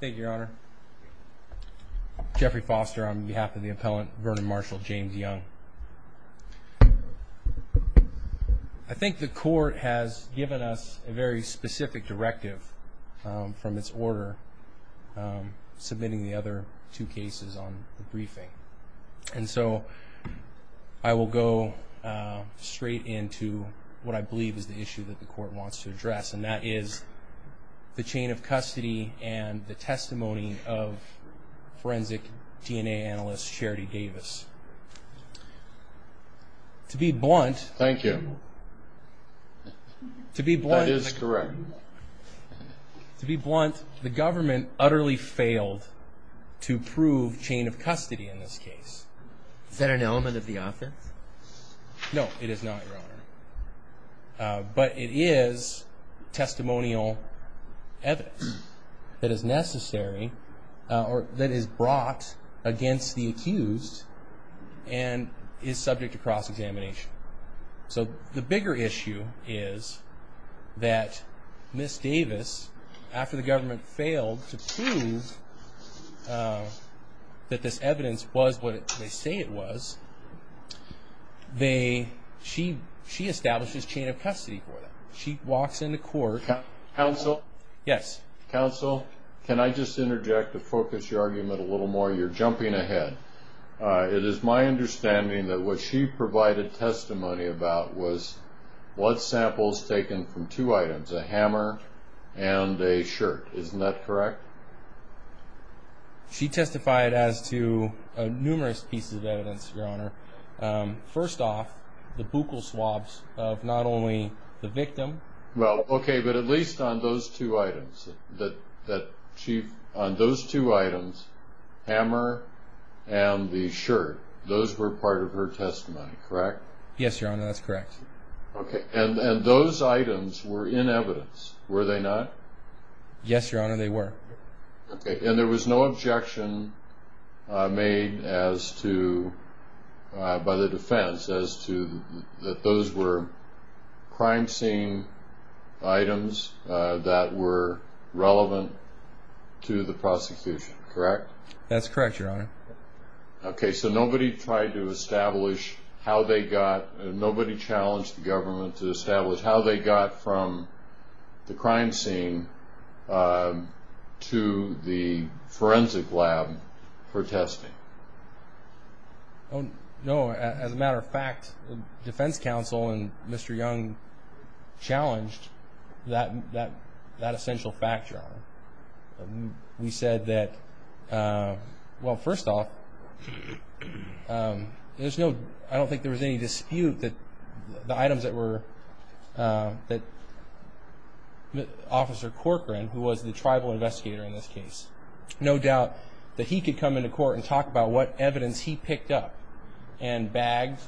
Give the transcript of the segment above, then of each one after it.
Thank you your honor. Jeffrey Foster on behalf of the appellant Vernon Marshall James Young. I think the court has given us a very specific directive from its order submitting the other two cases on the briefing and so I will go straight into what I believe is the issue that the court wants to address and that is the chain of custody and the testimony of forensic DNA analyst Charity Davis. To be blunt. Thank you. To be blunt. That is correct. To be blunt the government utterly failed to prove chain of custody in this case. Is that an element of the offense? No it is not your honor but it is testimonial evidence that is necessary or that is brought against the accused and is subject to cross-examination. So the bigger issue is that Ms. Davis after the government failed to prove that this evidence was what they say it was they she she establishes chain of custody. Counsel? Yes. Counsel can I just interject to focus your argument a little more? You're jumping ahead. It is my understanding that what she provided testimony about was what samples taken from two items a hammer and a shirt isn't that correct? She testified as to numerous pieces of evidence your honor. First off the buccal swabs of not only the victim. Well okay but at least on those two items that that she on those two items hammer and the shirt those were part of her testimony correct? Yes your honor that's correct. Okay and and those items were in evidence were they not? Yes your honor they were. Okay and was no objection made as to by the defense as to that those were crime scene items that were relevant to the prosecution correct? That's correct your honor. Okay so nobody tried to establish how they got nobody challenged the government to establish how they got from the crime scene to the forensic lab for testing? Oh no as a matter of fact the defense counsel and Mr. Young challenged that that that essential factor. We said that well first off there's no I don't think there was any dispute that the items that were that officer Corcoran who was the tribal investigator in this case no doubt that he could come into court and talk about what evidence he picked up and bagged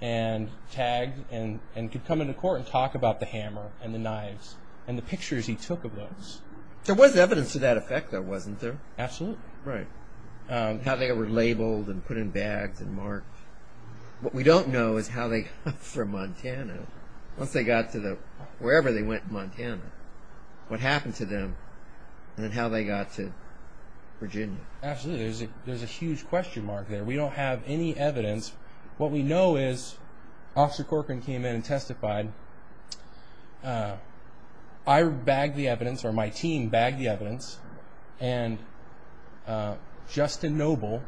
and tagged and and could come into court and talk about the hammer and the knives and the pictures he took of those. There was evidence to that effect though wasn't there? Absolutely. Right how they were labeled and put in bags and marked what we don't know is how they from Montana once they got to the wherever they went in Montana what happened to them and how they got to Virginia? Absolutely there's a there's a huge question mark there we don't have any evidence what we know is officer Corcoran came in and testified I bagged the evidence or my team bagged the evidence and Justin Noble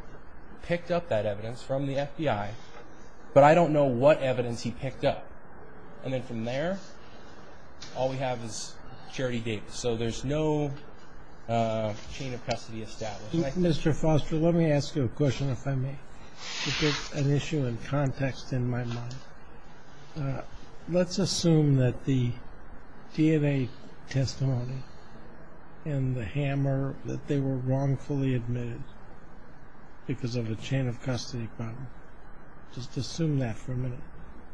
picked up that evidence from the FBI but I don't know what evidence he picked up and then from there all we have is Charity Davis so there's no chain of custody established. Mr. Foster let me ask you a question if I may to get an issue in context in my mind. Let's assume that the DNA testimony and the hammer that they were wrongfully admitted because of a chain of custody problem just assume that for a minute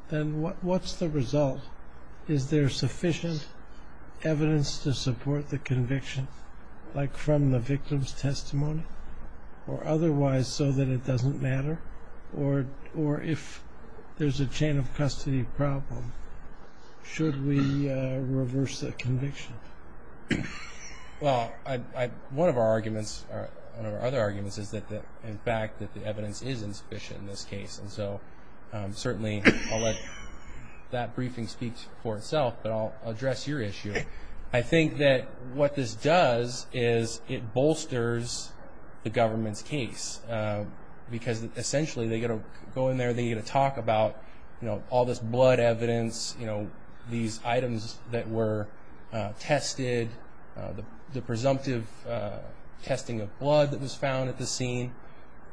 then what what's the result is there sufficient evidence to support the conviction like from the victim's testimony or otherwise so that it doesn't matter or or if there's a chain of custody problem should we reverse the conviction? Well I one of our arguments or other arguments is that in fact that the evidence is insufficient in this case and so certainly I'll let that briefing speak for itself but I'll address your issue I think that what this does is it bolsters the government's case because essentially they're going to go in there they're going to talk about you know all this blood evidence you know these items that were tested the presumptive testing of blood that was found at the scene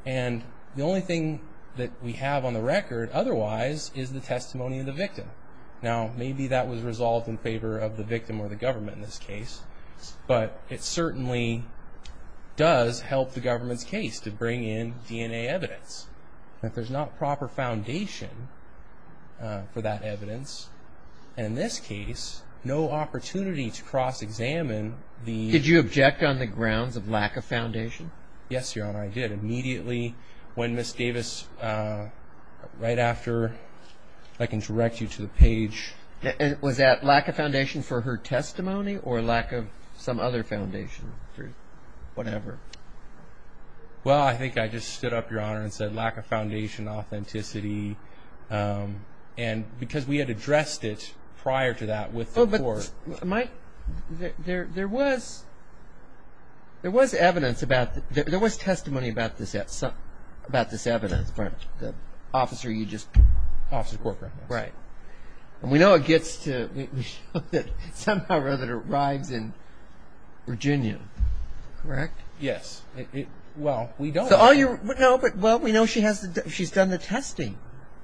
and the only thing that we have on the record otherwise is the testimony of the victim now maybe that was resolved in favor of the victim or the government in this case but it certainly does help the government's case to bring in DNA evidence if there's not proper foundation for that evidence and in this case no opportunity to cross-examine the... Did you object on the grounds of lack of foundation? Yes your honor I did immediately when Miss Davis right after I can direct you to the page... Was that lack of foundation for her testimony or lack of some other foundation through whatever? Well I think I just stood up your honor and said lack of foundation authenticity and because we had addressed it prior to that with the court... Mike there there was there was evidence about there was testimony about this at some about this evidence but the officer you just... Officer Corcoran. Right and we know it gets to somehow rather it arrives in Virginia correct? Yes well we don't know but well we know she has she's done the testing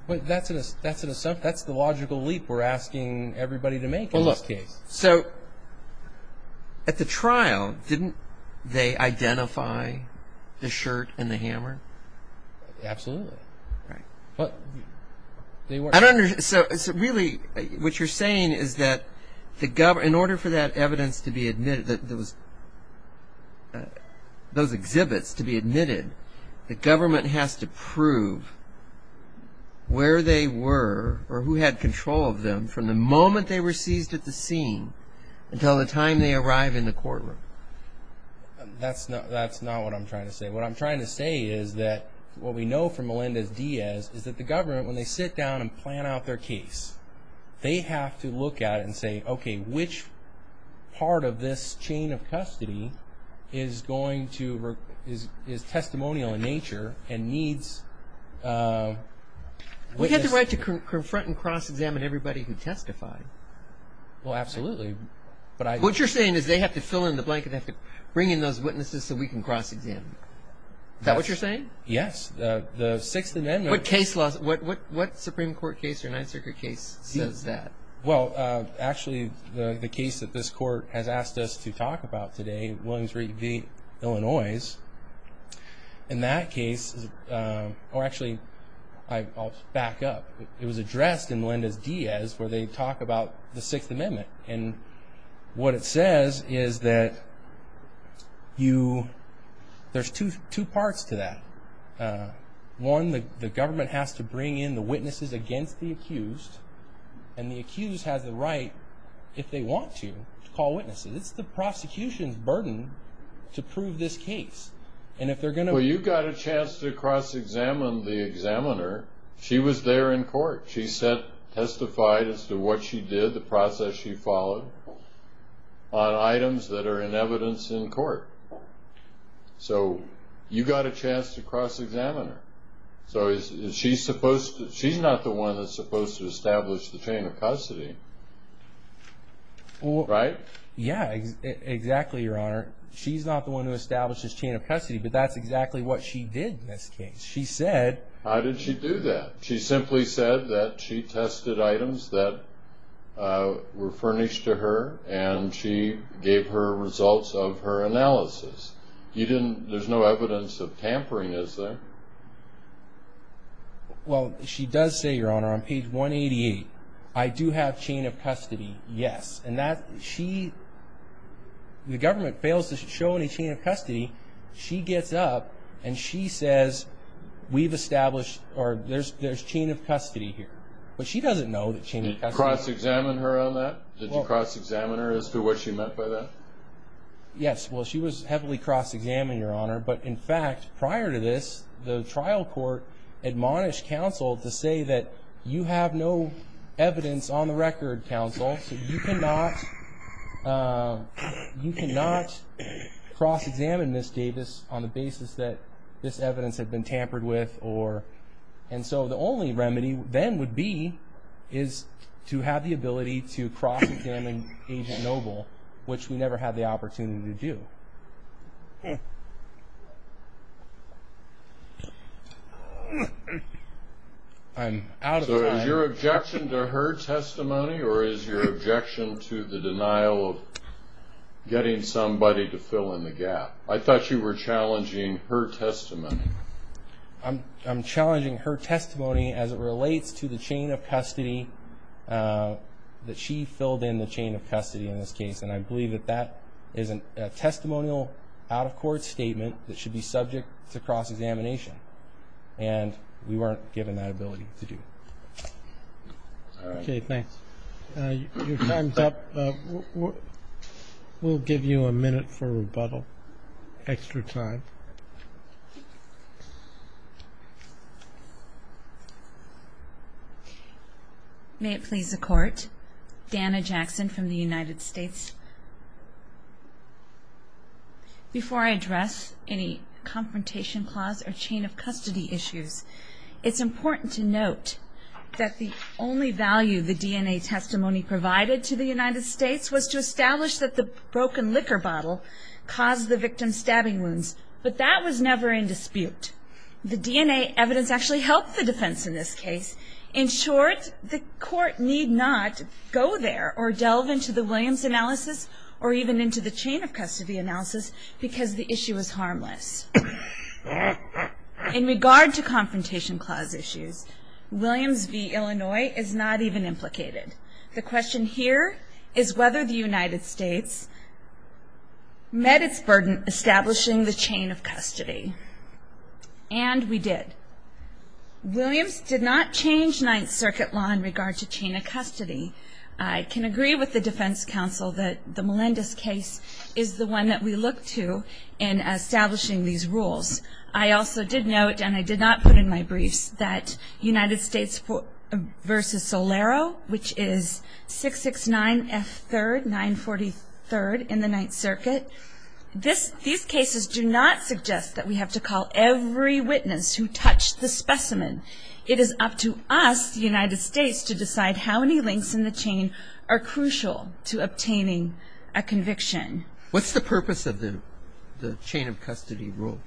but that's an assumption that's the logical leap we're asking everybody to make in this case. So at the trial didn't they identify the shirt and the hammer? Absolutely. Right but I don't understand so it's really what you're saying is that the government in order for that evidence to be admitted that there was those exhibits to be admitted the government has to prove where they were or who had control of from the moment they were seized at the scene until the time they arrive in the courtroom. That's not that's not what I'm trying to say what I'm trying to say is that what we know from Melendez-Diaz is that the government when they sit down and plan out their case they have to look at it and say okay which part of this chain of custody is going to is testimonial in nature and needs... We have the right to confront and cross-examine everybody who testified. Well absolutely but I... What you're saying is they have to fill in the blanket they have to bring in those witnesses so we can cross-examine is that what you're saying? Yes the the sixth amendment... What case law what what what supreme court case or ninth circuit case says that? Well actually the the case that this court has asked us to talk about today in that case or actually I'll back up it was addressed in Melendez-Diaz where they talk about the sixth amendment and what it says is that you there's two two parts to that one the government has to bring in the witnesses against the accused and the accused has the right if they want to call witnesses it's the prosecution's burden to prove this case and if they're going to... Well you got a chance to cross-examine the examiner she was there in court she said testified as to what she did the process she followed on items that are in evidence in court so you got a chance to cross-examine her so is she supposed to she's not the one that's supposed to establish the chain of custody well right yeah exactly your honor she's not the one who establishes chain of custody but that's exactly what she did in this case she said how did she do that she simply said that she tested items that uh were furnished to her and she gave her results of her analysis you didn't there's no evidence of tampering is there well she does say your honor on page 188 I do have chain of custody yes and that she the government fails to show any chain of custody she gets up and she says we've established or there's there's chain of custody here but she doesn't know that she didn't cross-examine her on that did you cross-examine her as to what she meant by that yes well she was heavily cross-examined your honor but in fact prior to this the trial court admonished counsel to say that you have no evidence on the record counsel so you cannot uh you cannot cross-examine miss davis on the basis that this evidence had been tampered with or and so the only remedy then would be is to have the ability to cross-examine agent noble which we never had the opportunity to do so i'm out so is your objection to her testimony or is your objection to the denial of getting somebody to fill in the gap i thought you were challenging her testimony i'm i'm challenging her testimony as it relates to the chain of custody uh that she filled in the chain of that should be subject to cross-examination and we weren't given that ability to do all right okay thanks uh your time's up uh we'll give you a minute for rebuttal extra time may it please the court dana jackson from the united states before i address any confrontation clause or chain of custody issues it's important to note that the only value the dna testimony provided to the united states was to establish that the broken liquor bottle caused the victim's stabbing wounds but that was never in dispute the dna evidence actually helped the defense in this case in short the court need not go there or or even into the chain of custody analysis because the issue is harmless in regard to confrontation clause issues williams v illinois is not even implicated the question here is whether the united states met its burden establishing the chain of custody and we did williams did not change ninth circuit law in regard to chain of custody i can agree with the defense counsel that the melendez case is the one that we look to in establishing these rules i also did note and i did not put in my briefs that united states versus solero which is 669 f third 943rd in the ninth circuit this these cases do not suggest that we have to call every witness who touched the specimen it is up to us the united states to are crucial to obtaining a conviction what's the purpose of the the chain of custody rule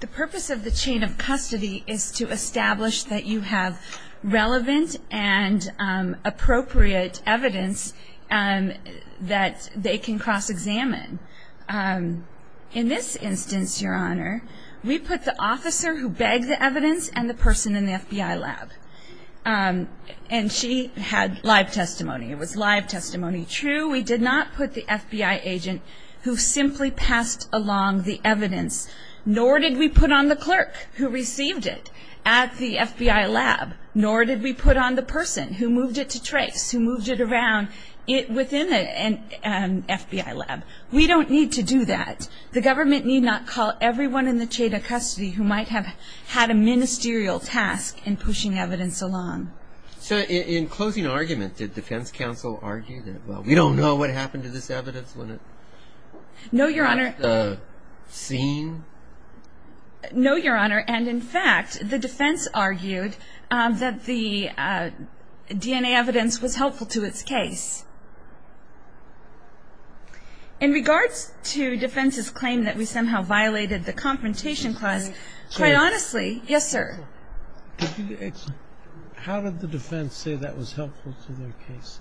the purpose of the chain of custody is to establish that you have relevant and appropriate evidence and that they can cross-examine um in this instance your honor we put the officer who had live testimony it was live testimony true we did not put the fbi agent who simply passed along the evidence nor did we put on the clerk who received it at the fbi lab nor did we put on the person who moved it to trace who moved it around it within an fbi lab we don't need to do that the government need not call everyone in the chain of custody who might have had a argument did defense counsel argue that well we don't know what happened to this evidence when it no your honor uh seen no your honor and in fact the defense argued um that the dna evidence was helpful to its case in regards to defense's claim that we somehow violated the confrontation clause quite honestly yes sir how did the defense say that was helpful to their case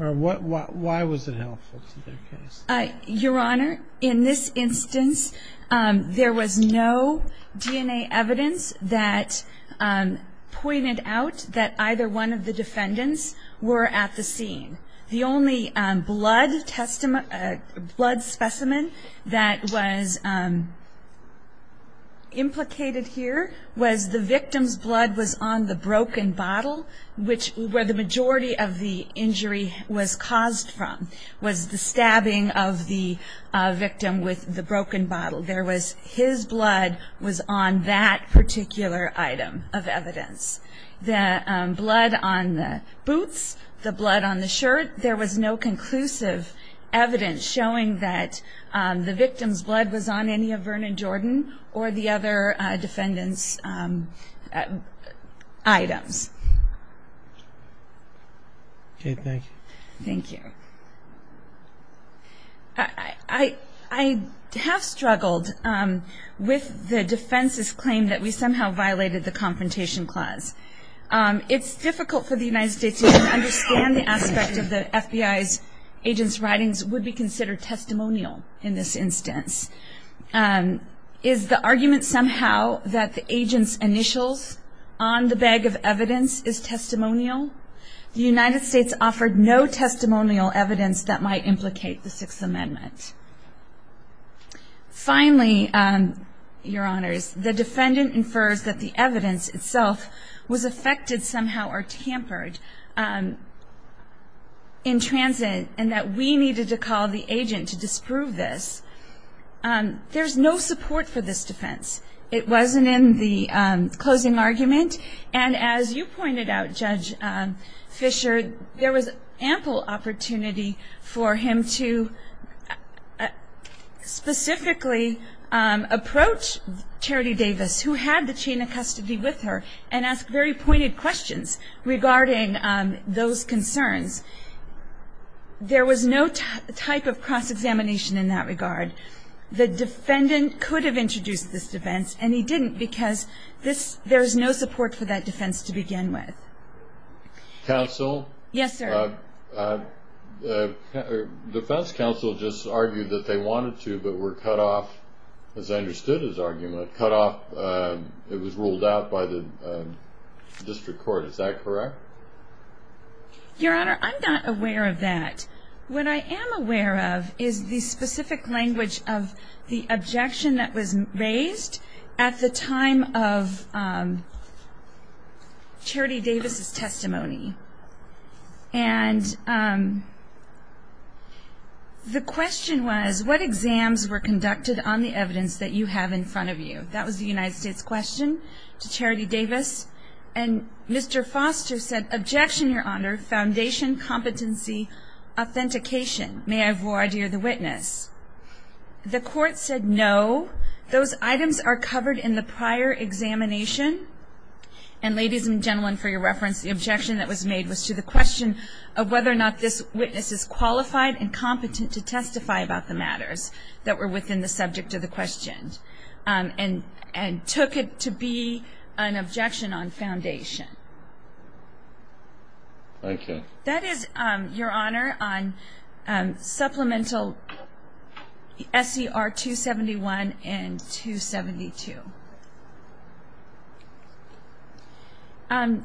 or what why was it helpful to their case uh your honor in this instance um there was no dna evidence that um pointed out that either one of the defendants were at the scene the only um blood testimony a blood specimen that was um implicated here was the victim's blood was on the broken bottle which where the majority of the injury was caused from was the stabbing of the uh victim with the broken bottle there was his blood was on that particular item of evidence the um blood on the evidence showing that um the victim's blood was on any of vernon jordan or the other defendants items okay thank you thank you i i i have struggled um with the defense's claim that we somehow violated the confrontation clause um it's difficult for the united states to even understand the aspect of the fbi's agent's writings would be considered testimonial in this instance um is the argument somehow that the agent's initials on the bag of evidence is testimonial the united states offered no testimonial evidence that might implicate the sixth amendment finally um your honors the and that we needed to call the agent to disprove this um there's no support for this defense it wasn't in the um closing argument and as you pointed out judge um fisher there was ample opportunity for him to specifically um approach charity davis who had the chain of custody with her and ask very pointed questions regarding um those concerns there was no type of cross examination in that regard the defendant could have introduced this defense and he didn't because this there's no support for that defense to begin with counsel yes sir uh the defense council just argued that they wanted to but were cut off as i understood his argument cut off uh it was ruled out by the district court is that correct your honor i'm not aware of that what i am aware of is the specific language of the objection that was raised at the time of um charity davis's testimony and um the question was what exams were conducted on the evidence that you have in front of you that was the united states question to charity davis and mr foster said objection your honor foundation competency authentication may i have more idea the witness the court said no those items are covered in the prior examination and ladies and gentlemen for your reference the objection that was made was to the question of whether or not this witness is qualified and and took it to be an objection on foundation thank you that is um your honor on um supplemental ser 271 and 272 um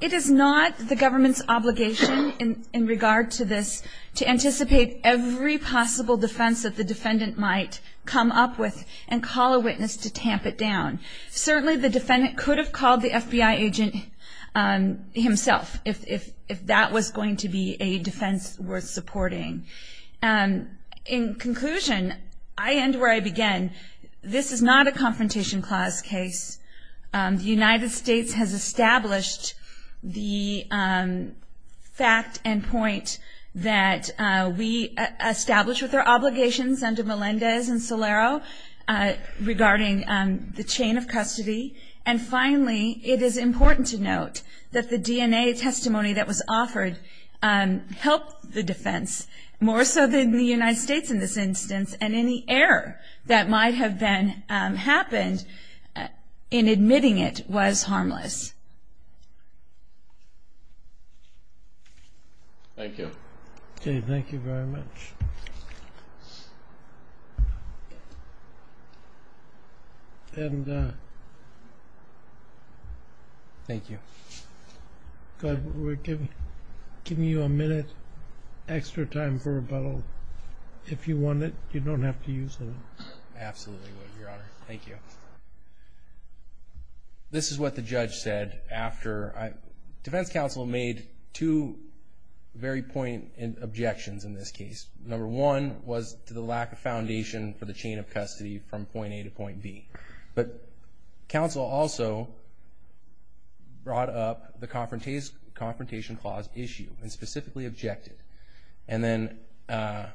it is not the government's obligation in in regard to this to anticipate every possible defense that the defendant might come up with and call a witness to tamp it down certainly the defendant could have called the fbi agent um himself if if if that was going to be a defense worth supporting um in conclusion i end where i began this is not a confrontation clause case um the united states has established the um fact and point that uh we established with their obligations under melendez and solero uh regarding um the chain of custody and finally it is important to note that the dna testimony that was offered um helped the defense more so in the united states in this instance and any error that might have been um happened in admitting it was harmless thank you okay thank you very much and uh thank you good we're giving giving you a minute extra time for rebuttal if you want it you don't have to use it absolutely your honor thank you this is what the judge said after i defense counsel made two very point in objections in this case number one was to the lack of foundation for the chain of custody from point a to point b but counsel also brought up the confrontation confrontation clause issue and specifically objected and then uh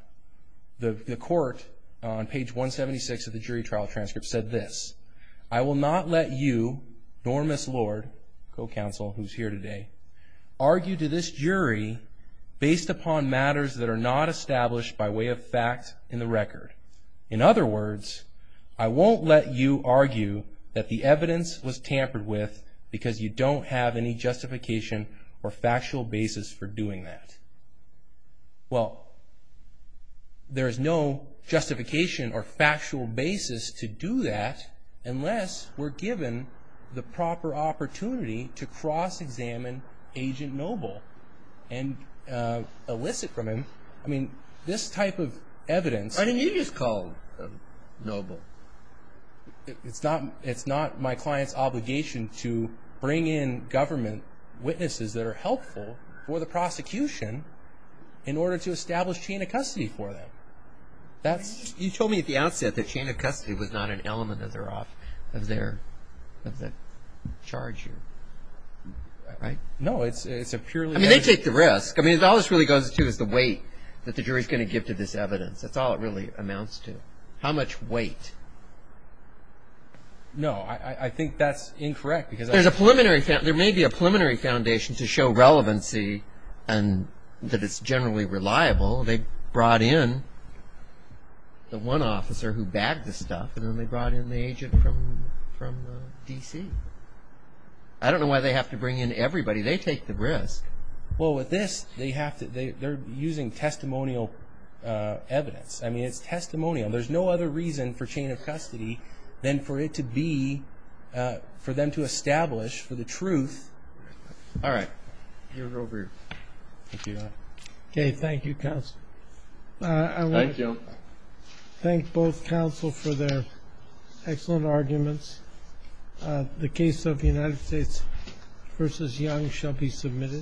the the court on page 176 of the jury trial transcript said this i will not let you nor miss lord co-counsel who's here today argue to this jury based upon matters that are not established by way of fact in the record in other words i won't let you argue that the evidence was tampered with because you don't have any justification or factual basis for doing that well there is no justification or factual basis to do that unless we're given the proper opportunity to cross-examine agent noble and uh elicit from him i mean this type of evidence i mean you just called noble it's not it's not my client's obligation to bring in government witnesses that are helpful for the prosecution in order to establish chain of custody for them that's you told me at the outset that chain of custody was not an element of their off of their of the charge here right no it's it's a purely i mean they take the risk i mean all this really goes to is the weight that the jury's going to give to this evidence that's all it really amounts to how much weight no i i think that's incorrect because there's a preliminary there may be a preliminary foundation to show relevancy and that it's generally reliable they brought in the one officer who bagged the stuff and then they brought in the agent from from dc i don't know why they have to bring in everybody they take the risk well with this they have to they they're using testimonial uh evidence i mean it's testimonial there's no other reason for chain of custody than for it to be uh for them to establish for the truth all right you're over here thank you okay thank you counsel uh i want to thank both counsel for their excellent arguments uh the case of the united states versus young shall be submitted